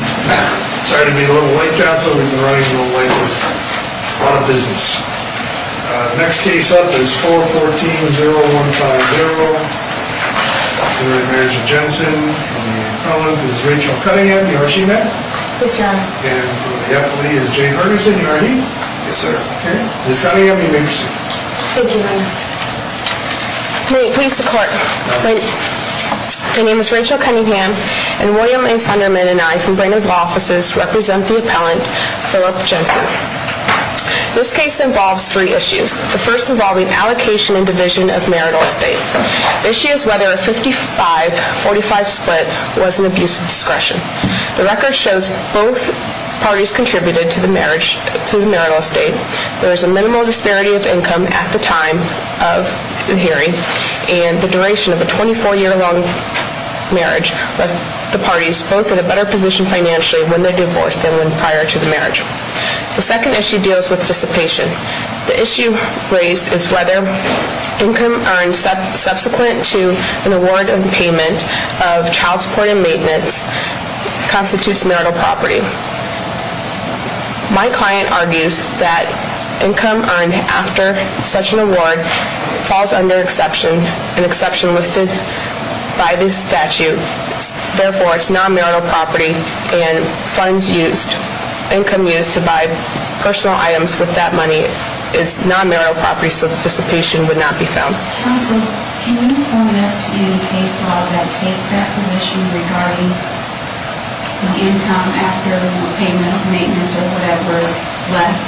Sorry to be late counsel, we've been running a little late with a lot of business. Next case up is 414-0150. Marriage of Jensen. On the front is Rachel Cunningham, you heard she met? Yes, your honor. And on the left is Jay Ferguson, you heard he? Yes, sir. Ms. Cunningham, you may proceed. Thank you, your honor. May it please the court. My name is Rachel Cunningham, and William A. Sunderman and I from Brandon Law Offices represent the appellant Philip Jensen. This case involves three issues. The first involving allocation and division of marital estate. The issue is whether a 55-45 split was an abuse of discretion. The record shows both parties contributed to the marriage, to the marital estate. There is a minimal disparity of income at the time of the hearing and the duration of a 24-year long marriage with the parties, both in a better position financially when they're divorced than when prior to the marriage. The second issue deals with dissipation. The issue raised is whether income earned subsequent to an award of payment of child support and maintenance constitutes marital property. My client argues that income earned after such an award falls under exception, an exception listed by this statute. Therefore, it's non-marital property and funds used, income used to buy personal items with that money is non-marital property, so dissipation would not be found. Counsel, can you inform us of any case law that takes that position regarding the income after payment of maintenance or whatever is left?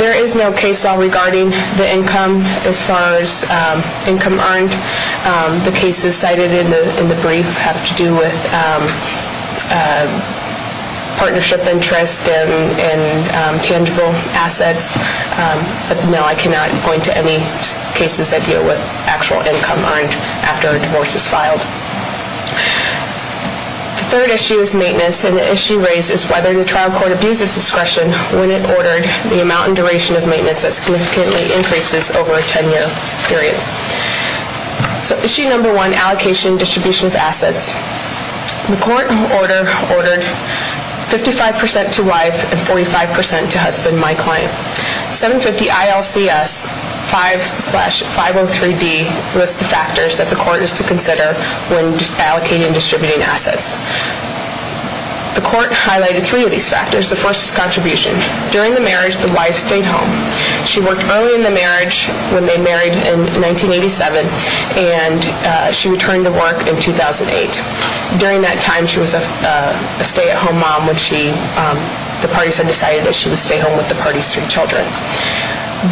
There is no case law regarding the income as far as income earned. The cases cited in the brief have to do with partnership interest and tangible assets. But no, I cannot point to any cases that deal with actual income earned after a divorce is filed. The third issue is maintenance. And the issue raised is whether the trial court abuses discretion when it ordered the amount and duration of maintenance that significantly increases over a 10-year period. So issue number one, allocation and distribution of assets. The court ordered 55% to wife and 45% to husband, my client. 750 ILCS 5-503D lists the factors that the court is to consider when allocating and distributing assets. The court highlighted three of these factors. The first is contribution. During the marriage, the wife stayed home. She worked early in the marriage when they married in 1987, and she returned to work in 2008. During that time, she was a stay-at-home mom when the parties had decided that she would stay home with the party's three children.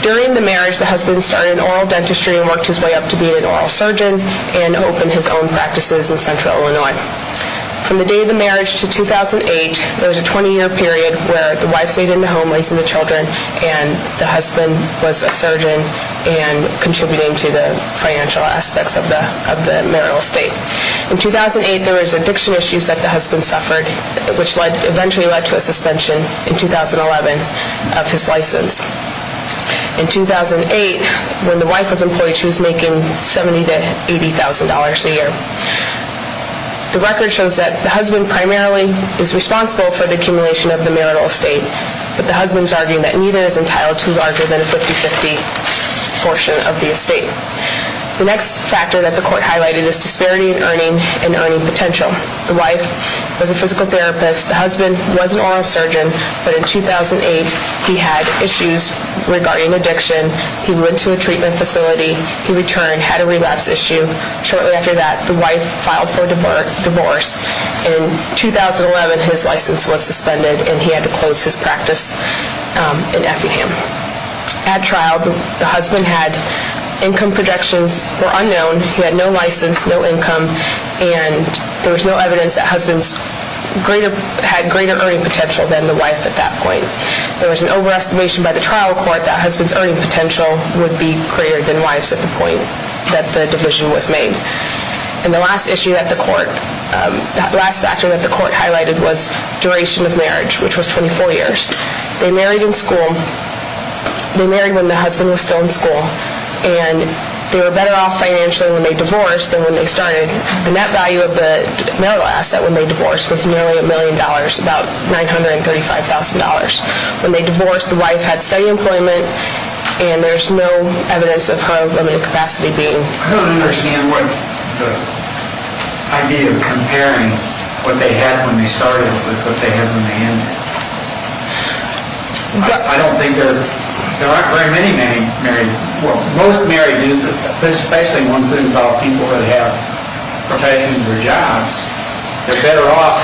During the marriage, the husband started an oral dentistry and worked his way up to being an oral surgeon and opened his own practices in Central Illinois. From the day of the marriage to 2008, there was a 20-year period where the wife stayed in the home, raising the children, and the husband was a surgeon and contributing to the financial aspects of the marital estate. In 2008, there was addiction issues that the husband suffered, which eventually led to a suspension in 2011 of his license. In 2008, when the wife was employed, she was making $70,000 to $80,000 a year. The record shows that the husband primarily is responsible for the accumulation of the marital estate, but the husband is arguing that neither is entitled to larger than a 50-50 portion of the estate. The next factor that the court highlighted is disparity in earning and earning potential. The wife was a physical therapist. The husband was an oral surgeon, but in 2008, he had issues regarding addiction. He went to a treatment facility. He returned, had a relapse issue. Shortly after that, the wife filed for divorce. In 2011, his license was suspended, and he had to close his practice in Effingham. At trial, the husband had income projections that were unknown. He had no license, no income, and there was no evidence that the husband had greater earning potential than the wife at that point. There was an overestimation by the trial court that the husband's earning potential would be greater than the wife's at the point that the division was made. The last factor that the court highlighted was duration of marriage, which was 24 years. They married when the husband was still in school, and they were better off financially when they divorced than when they started. The net value of the marital asset when they divorced was nearly $1 million, about $935,000. When they divorced, the wife had steady employment, and there's no evidence of her earning capacity being greater. I don't understand the idea of comparing what they had when they started with what they had when they ended. I don't think that there aren't very many marriages. Most marriages, especially ones that involve people who have professions or jobs, they're better off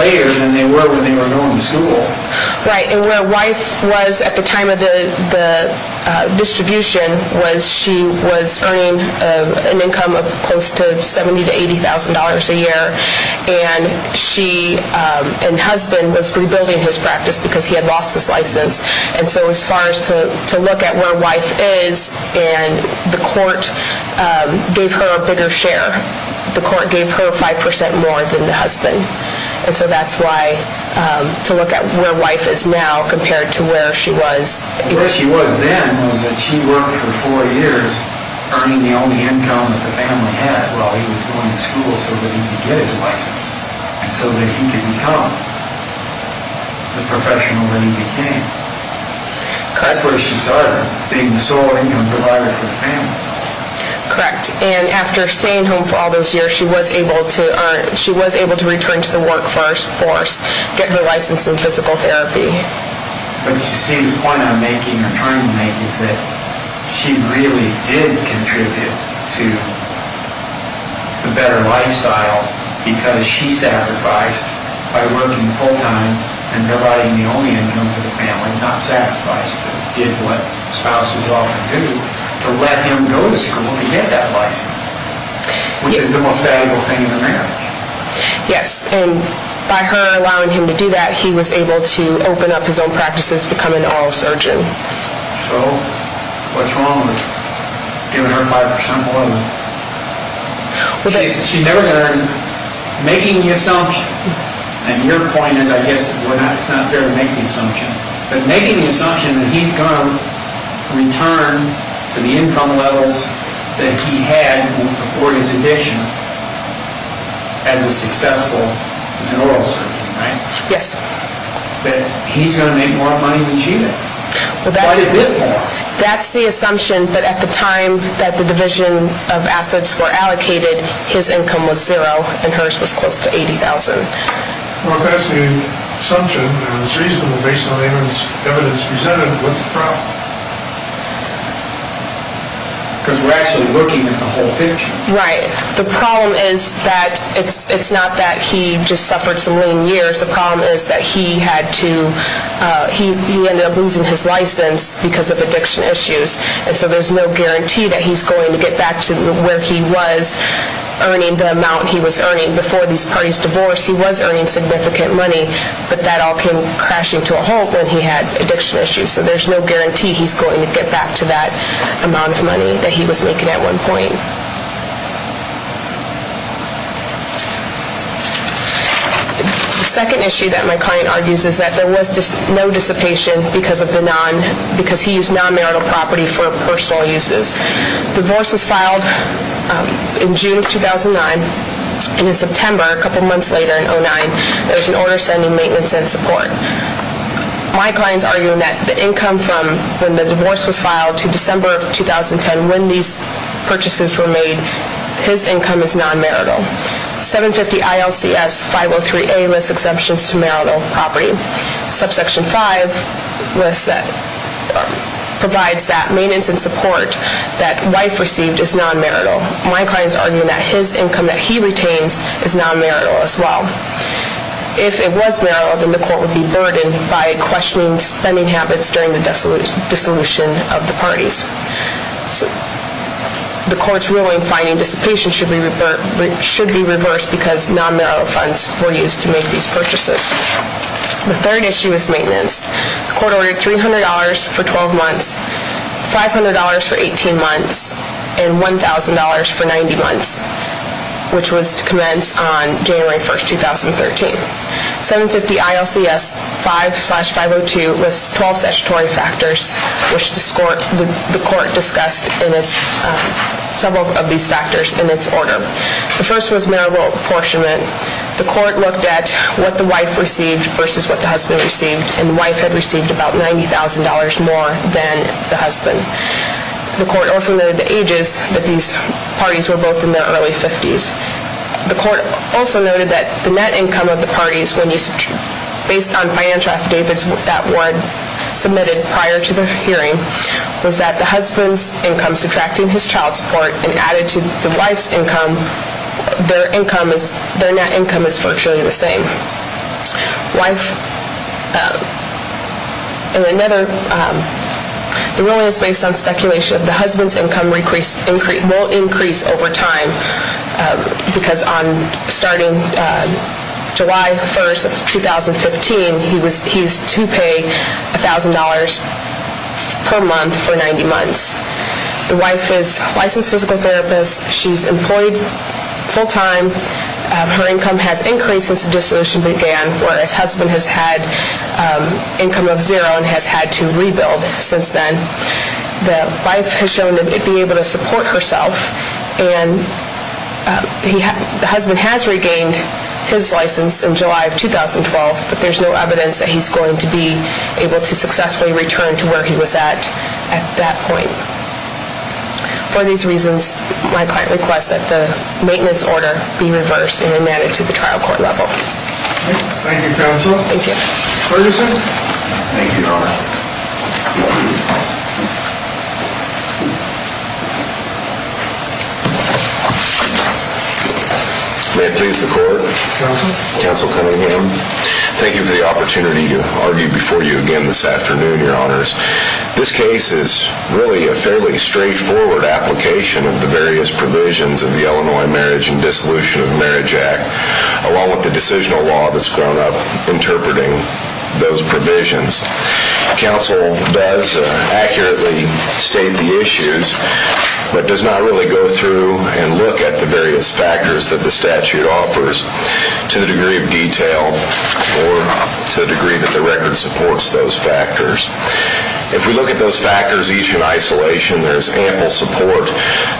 later than they were when they were going to school. Right, and where wife was at the time of the distribution was she was earning an income of close to $70,000 to $80,000 a year, and husband was rebuilding his practice because he had lost his license. As far as to look at where wife is, the court gave her a bigger share. The court gave her 5% more than the husband, and so that's why to look at where wife is now compared to where she was. Where she was then was that she worked for four years earning the only income that the family had while he was going to school so that he could get his license and so that he could become the professional that he became. That's where she started, being the sole income provider for the family. Correct, and after staying home for all those years, she was able to return to the workforce, get her license in physical therapy. But you see, the point I'm making or trying to make is that she really did contribute to a better lifestyle because she sacrificed by working full-time and providing the only income for the family, not sacrifice, but did what spouses often do to let him go to school to get that license, which is the most valuable thing in a marriage. Yes, and by her allowing him to do that, he was able to open up his own practices, become an oral surgeon. So, what's wrong with giving her 5% more than... Making the assumption, and your point is I guess it's not fair to make the assumption, but making the assumption that he's going to return to the income levels that he had before his addiction as a successful oral surgeon, right? Yes. That he's going to make more money than she did. That's the assumption, but at the time that the division of assets were allocated, his income was zero and hers was close to $80,000. Well, if that's the assumption and it's reasonable based on the evidence presented, what's the problem? Because we're actually looking at the whole picture. Right. The problem is that it's not that he just suffered some lame years. The problem is that he ended up losing his license because of addiction issues, and so there's no guarantee that he's going to get back to where he was earning the amount he was earning. Before these parties divorced, he was earning significant money, but that all came crashing to a halt when he had addiction issues. So, there's no guarantee he's going to get back to that amount of money that he was making at one point. The second issue that my client argues is that there was no dissipation because he used non-marital property for personal uses. Divorce was filed in June of 2009, and in September, a couple months later in 2009, there was an order sending maintenance and support. My client's arguing that the income from when the divorce was filed to December of 2010, when these purchases were made, his income is non-marital. 750-ILCS-503A lists exemptions to marital property. Subsection 5 provides that maintenance and support that wife received is non-marital. My client's arguing that his income that he retains is non-marital as well. If it was marital, then the court would be burdened by questioning spending habits during the dissolution of the parties. The court's ruling finding dissipation should be reversed because non-marital funds were used to make these purchases. The third issue is maintenance. The court ordered $300 for 12 months, $500 for 18 months, and $1,000 for 90 months, which was to commence on January 1, 2013. 750-ILCS-5-502 lists 12 statutory factors, which the court discussed several of these factors in its order. The first was marital apportionment. The court looked at what the wife received versus what the husband received, and the wife had received about $90,000 more than the husband. The court also noted the ages, that these parties were both in their early 50s. The court also noted that the net income of the parties, based on financial affidavits that were submitted prior to the hearing, was that the husband's income subtracting his child support and added to the wife's income, their net income is virtually the same. The ruling is based on speculation that the husband's income won't increase over time, because starting July 1, 2015, he is to pay $1,000 per month for 90 months. The wife is a licensed physical therapist. She's employed full-time. Her income has increased since the dissolution began, whereas her husband has had income of zero and has had to rebuild since then. The wife has shown to be able to support herself, and the husband has regained his license in July of 2012, but there's no evidence that he's going to be able to successfully return to where he was at at that point. For these reasons, my client requests that the maintenance order be reversed and amended to the trial court level. Thank you, counsel. Ferguson. Thank you, Your Honor. May it please the court. Counsel. Counsel Cunningham. Thank you for the opportunity to argue before you again this afternoon, Your Honors. This case is really a fairly straightforward application of the various provisions of the Illinois Marriage and Dissolution of Marriage Act, along with the decisional law that's grown up interpreting those provisions. Counsel does accurately state the issues, but does not really go through and look at the various factors that the statute offers to the degree of detail or to the degree that the record supports those factors. If we look at those factors each in isolation, there's ample support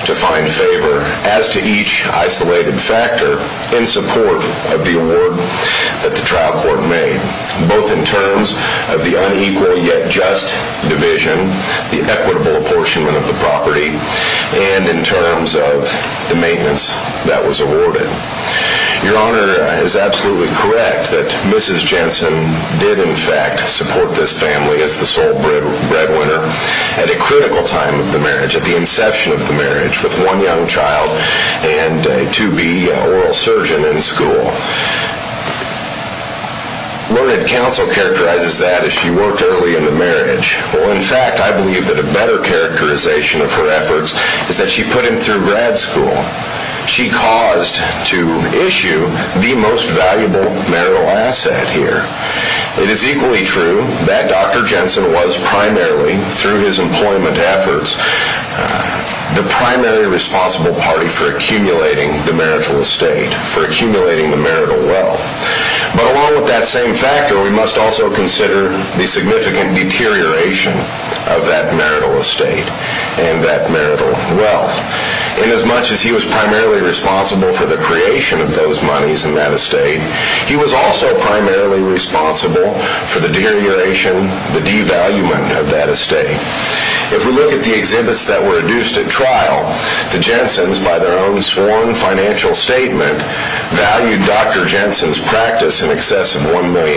to find favor as to each isolated factor in support of the award that the trial court made, both in terms of the unequal yet just division, the equitable apportionment of the property, and in terms of the maintenance that was awarded. Your Honor is absolutely correct that Mrs. Jensen did, in fact, support this family as the sole breadwinner at a critical time of the marriage, at the inception of the marriage, with one young child and a 2B oral surgeon in school. Learned counsel characterizes that as she worked early in the marriage. Well, in fact, I believe that a better characterization of her efforts is that she put him through grad school. She caused to issue the most valuable marital asset here. It is equally true that Dr. Jensen was primarily, through his employment efforts, the primary responsible party for accumulating the marital estate, for accumulating the marital wealth. But along with that same factor, we must also consider the significant deterioration of that marital estate and that marital wealth. And as much as he was primarily responsible for the creation of those monies and that estate, he was also primarily responsible for the deterioration, the devaluing of that estate. If we look at the exhibits that were adduced at trial, the Jensens, by their own sworn financial statement, valued Dr. Jensen's practice in excess of $1 million.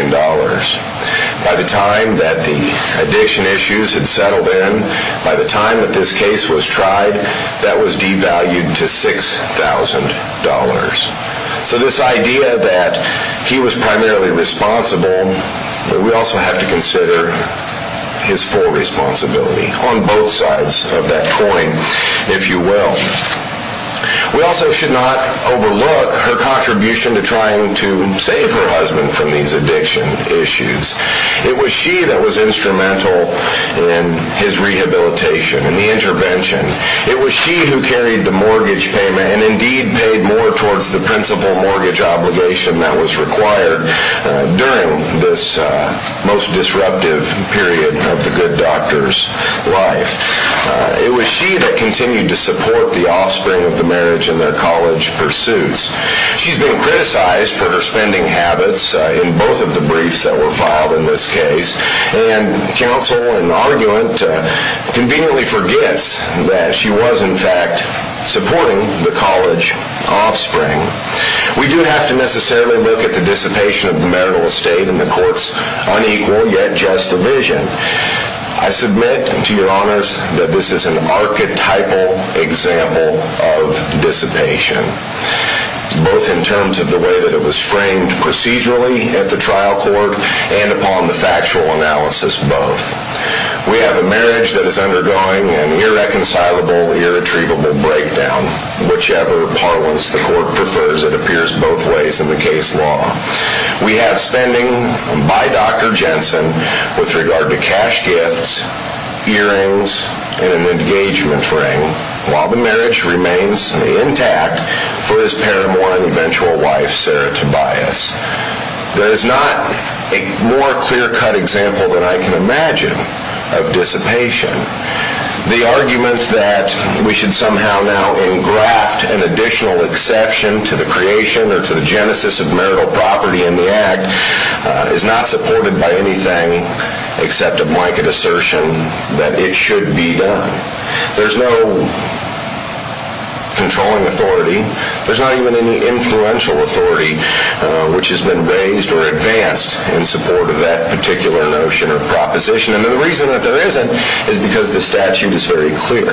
By the time that the addiction issues had settled in, by the time that this case was tried, that was devalued to $6,000. So this idea that he was primarily responsible, we also have to consider his full responsibility on both sides of that coin, if you will. We also should not overlook her contribution to trying to save her husband from these addiction issues. It was she that was instrumental in his rehabilitation and the intervention. It was she who carried the mortgage payment and indeed paid more towards the principal mortgage obligation that was required during this most disruptive period of the good doctor's life. It was she that continued to support the offspring of the marriage and their college pursuits. She's been criticized for her spending habits in both of the briefs that were filed in this case, and counsel and arguant conveniently forgets that she was in fact supporting the college offspring. We do have to necessarily look at the dissipation of the marital estate and the court's unequal yet just division. I submit to your honors that this is an archetypal example of dissipation, both in terms of the way that it was framed procedurally at the trial court and upon the factual analysis both. We have a marriage that is undergoing an irreconcilable, irretrievable breakdown. Whichever parlance the court prefers, it appears both ways in the case law. We have spending by Dr. Jensen with regard to cash gifts, earrings, and an engagement ring, while the marriage remains intact for his paramour and eventual wife, Sarah Tobias. There is not a more clear-cut example than I can imagine of dissipation. The argument that we should somehow now engraft an additional exception to the creation or to the genesis of marital property in the Act is not supported by anything except a blanket assertion that it should be done. There's no controlling authority. There's not even any influential authority which has been raised or advanced in support of that particular notion or proposition. And the reason that there isn't is because the statute is very clear.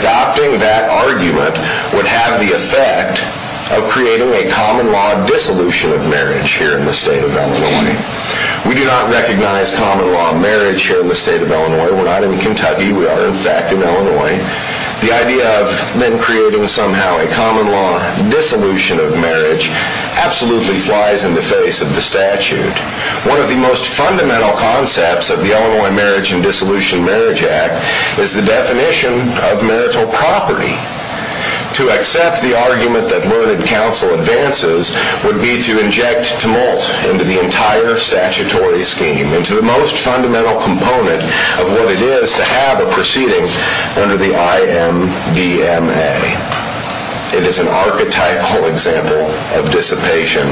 Adopting that argument would have the effect of creating a common-law dissolution of marriage here in the state of Illinois. We do not recognize common-law marriage here in the state of Illinois. We're not in Kentucky. We are, in fact, in Illinois. The idea of men creating somehow a common-law dissolution of marriage absolutely flies in the face of the statute. One of the most fundamental concepts of the Illinois Marriage and Dissolution Marriage Act is the definition of marital property. To accept the argument that learned counsel advances would be to inject tumult into the entire statutory scheme, into the most fundamental component of what it is to have a proceeding under the IMVMA. It is an archetypal example of dissipation.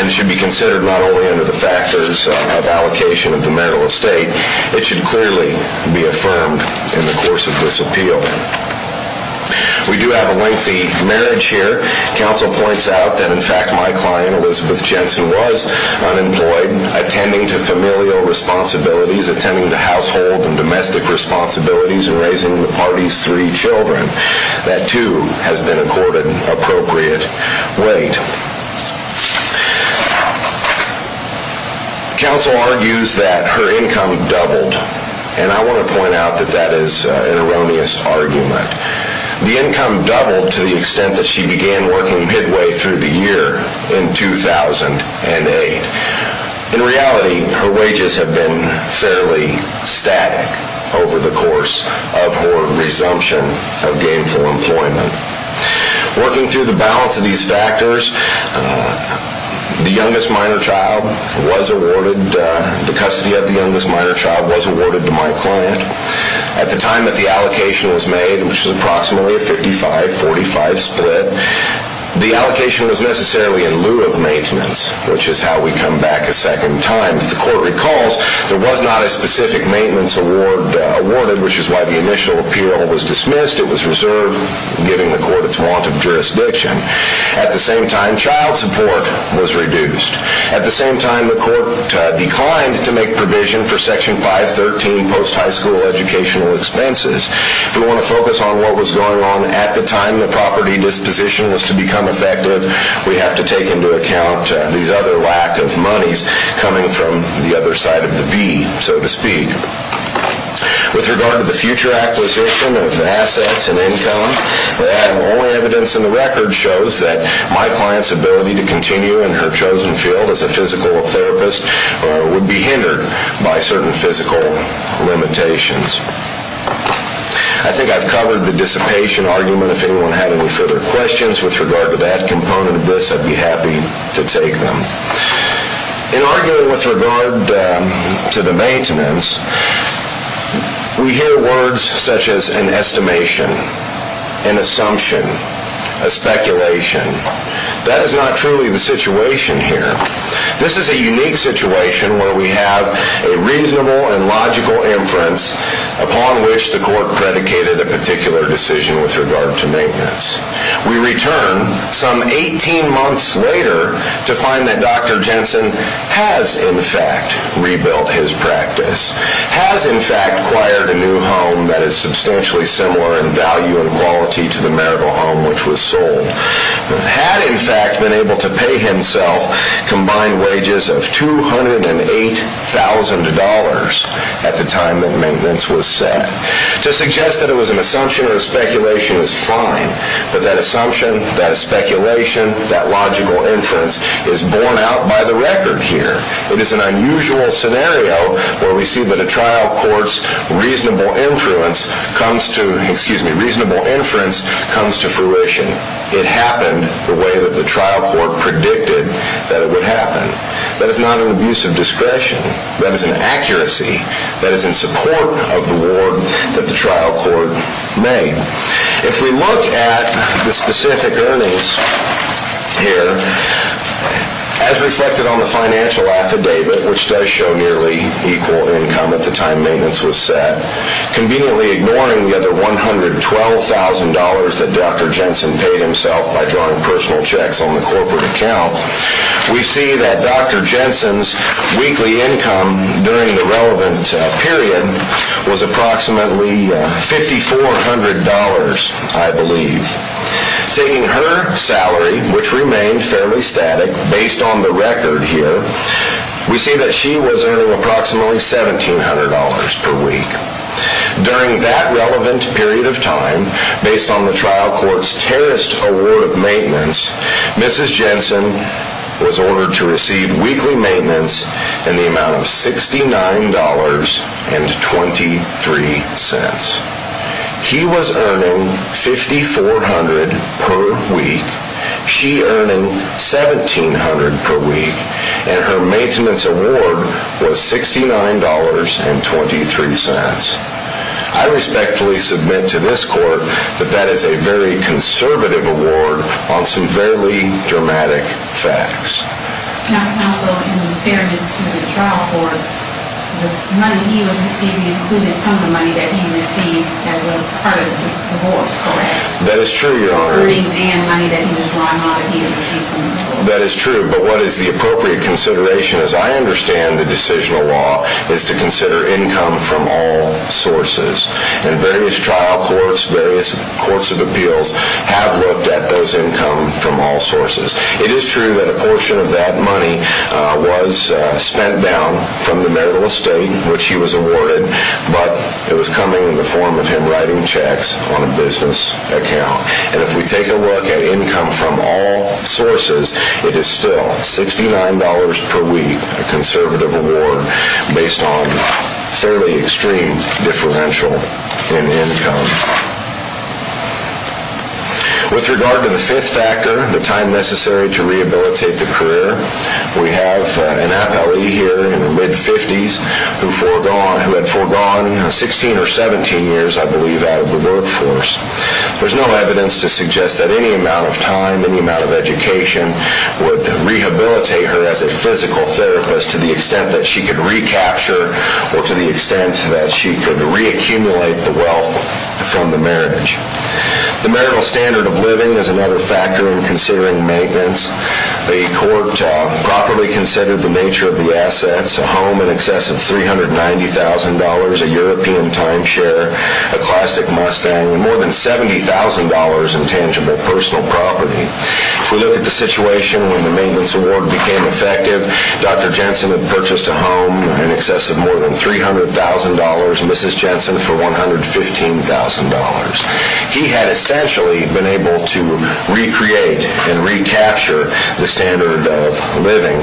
And it should be considered not only under the factors of allocation of the marital estate, it should clearly be affirmed in the course of this appeal. We do have a lengthy marriage here. Counsel points out that, in fact, my client, Elizabeth Jensen, was unemployed, attending to familial responsibilities, attending to household and domestic responsibilities, and raising the party's three children. That, too, has been accorded appropriate weight. Counsel argues that her income doubled, and I want to point out that that is an erroneous argument. The income doubled to the extent that she began working midway through the year in 2008. In reality, her wages have been fairly static over the course of her resumption of gainful employment. Working through the balance of these factors, the custody of the youngest minor child was awarded to my client. At the time that the allocation was made, which was approximately a 55-45 split, the allocation was necessarily in lieu of maintenance, which is how we come back a second time. If the court recalls, there was not a specific maintenance award awarded, which is why the initial appeal was dismissed. It was reserved, giving the court its want of jurisdiction. At the same time, child support was reduced. At the same time, the court declined to make provision for Section 513 post-high school educational expenses. If we want to focus on what was going on at the time the property disposition was to become effective, we have to take into account these other lack of monies coming from the other side of the V, so to speak. With regard to the future acquisition of assets and income, the evidence in the record shows that my client's ability to continue in her chosen field as a physical therapist would be hindered by certain physical limitations. I think I've covered the dissipation argument. If anyone had any further questions with regard to that component of this, I'd be happy to take them. In arguing with regard to the maintenance, we hear words such as an estimation, an assumption, a speculation. That is not truly the situation here. This is a unique situation where we have a reasonable and logical inference upon which the court predicated a particular decision with regard to maintenance. We return some 18 months later to find that Dr. Jensen has, in fact, rebuilt his practice, has, in fact, acquired a new home that is substantially similar in value and quality to the marital home which was sold, had, in fact, been able to pay himself combined wages of $208,000 at the time that maintenance was set. To suggest that it was an assumption or a speculation is fine, but that assumption, that speculation, that logical inference is borne out by the record here. It is an unusual scenario where we see that a trial court's reasonable inference comes to fruition. It happened the way that the trial court predicted that it would happen. That is not an abuse of discretion. That is an accuracy that is in support of the award that the trial court made. If we look at the specific earnings here, as reflected on the financial affidavit, which does show nearly equal income at the time maintenance was set, conveniently ignoring the other $112,000 that Dr. Jensen paid himself by drawing personal checks on the corporate account, we see that Dr. Jensen's weekly income during the relevant period was approximately $5,400, I believe. Taking her salary, which remained fairly static based on the record here, we see that she was earning approximately $1,700 per week. During that relevant period of time, based on the trial court's terrorist award of maintenance, Mrs. Jensen was ordered to receive weekly maintenance in the amount of $69.23. He was earning $5,400 per week, she earning $1,700 per week, and her maintenance award was $69.23. I respectfully submit to this court that that is a very conservative award on severely dramatic facts. Also, in fairness to the trial court, the money he was receiving included some of the money that he received as a part of the awards, correct? That is true, Your Honor. From the exam money that he was drawn out of, he didn't receive any money. That is true. But what is the appropriate consideration, as I understand the decisional law, is to consider income from all sources. And various trial courts, various courts of appeals have looked at those income from all sources. It is true that a portion of that money was spent down from the marital estate, which he was awarded, but it was coming in the form of him writing checks on a business account. And if we take a look at income from all sources, it is still $69 per week, a conservative award, based on fairly extreme differential in income. With regard to the fifth factor, the time necessary to rehabilitate the career, we have an attorney here in her mid-50s who had foregone 16 or 17 years, I believe, out of the workforce. There is no evidence to suggest that any amount of time, any amount of education would rehabilitate her as a physical therapist to the extent that she could recapture or to the extent that she could reaccumulate the wealth from the marriage. The marital standard of living is another factor in considering maintenance. The court properly considered the nature of the assets, a home in excess of $390,000, a European timeshare, a classic Mustang, and more than $70,000 in tangible personal property. If we look at the situation when the maintenance award became effective, Dr. Jensen had purchased a home in excess of more than $300,000, Mrs. Jensen for $115,000. He had essentially been able to recreate and recapture the standard of living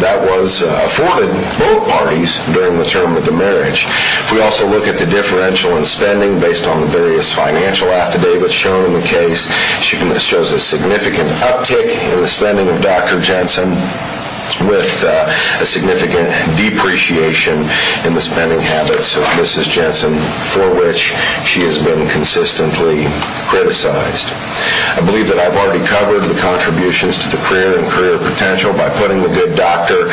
that was afforded both parties during the term of the marriage. If we also look at the differential in spending based on the various financial affidavits shown in the case, she shows a significant uptick in the spending of Dr. Jensen with a significant depreciation in the spending habits of Mrs. Jensen for which she has been consistently criticized. I believe that I've already covered the contributions to the career and career potential by putting the good doctor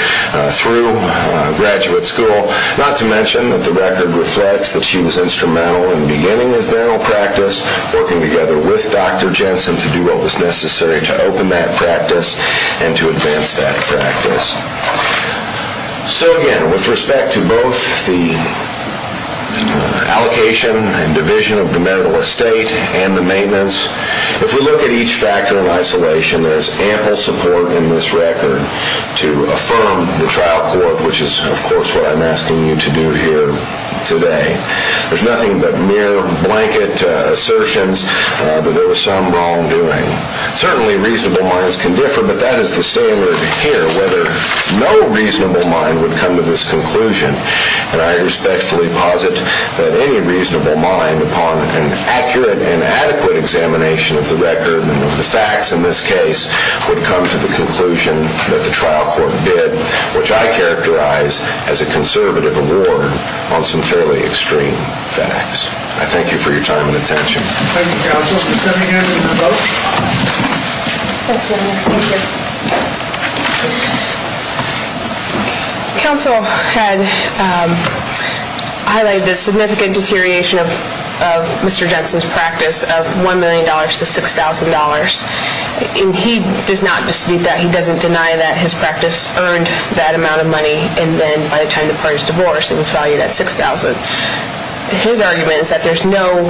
through graduate school, not to mention that the record reflects that she was instrumental in beginning his dental practice, working together with Dr. Jensen to do what was necessary to open that practice and to advance that practice. So again, with respect to both the allocation and division of the marital estate and the maintenance, if we look at each factor of isolation, there is ample support in this record to affirm the trial court, which is, of course, what I'm asking you to do here today. There's nothing but mere blanket assertions that there was some wrongdoing. Certainly, reasonable minds can differ, but that is the standard here, whether no reasonable mind would come to this conclusion. And I respectfully posit that any reasonable mind, upon an accurate and adequate examination of the record and of the facts in this case, would come to the conclusion that the trial court did, which I characterize as a conservative award on some fairly extreme facts. I thank you for your time and attention. Thank you, counsel, for stepping in and your vote. Thank you. Counsel had highlighted the significant deterioration of Mr. Jensen's practice of $1 million to $6,000. And he does not dispute that. He doesn't deny that his practice earned that amount of money, and then by the time the parties divorced, it was valued at $6,000. His argument is that there's no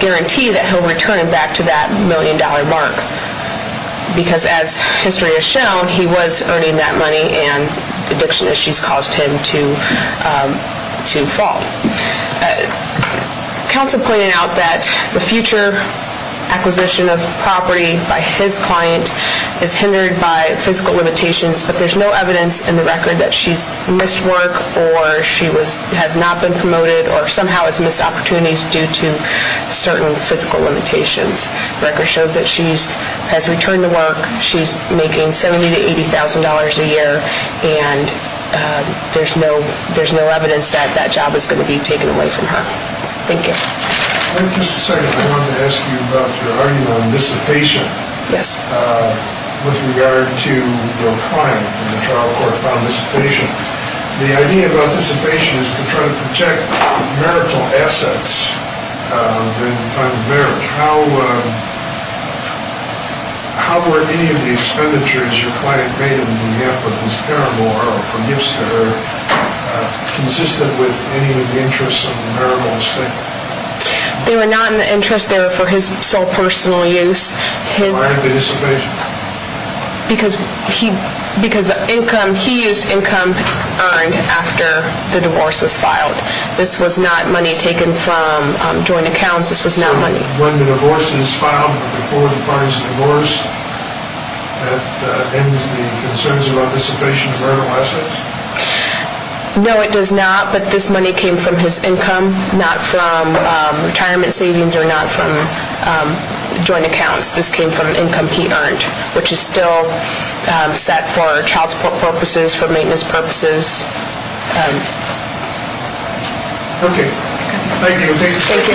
guarantee that he'll return back to that $1 million mark, because as history has shown, he was earning that money and addiction issues caused him to fall. Counsel pointed out that the future acquisition of property by his client is hindered by physical limitations, but there's no evidence in the record that she's missed work or she has not been promoted or somehow has missed opportunities due to certain physical limitations. The record shows that she has returned to work. She's making $70,000 to $80,000 a year, and there's no evidence that that job is going to be taken away from her. Thank you. Just a second. I wanted to ask you about your argument on dissipation with regard to your client and the trial court found dissipation. The idea about dissipation is to try to protect marital assets during the time of marriage. How were any of the expenditures your client made in behalf of his parent or from gifts to her consistent with any of the interests of the marital estate? They were not in the interest there for his sole personal use. Why the dissipation? Because he used income earned after the divorce was filed. This was not money taken from joint accounts. This was not money. When the divorce is filed before the client is divorced, that ends the concerns about dissipation of marital assets? No, it does not, but this money came from his income, not from retirement savings or not from joint accounts. This came from an income he earned, which is still set for child support purposes, for maintenance purposes. Okay. Thank you. Thank you. Thank you. Thank you. Any other questions? Any more?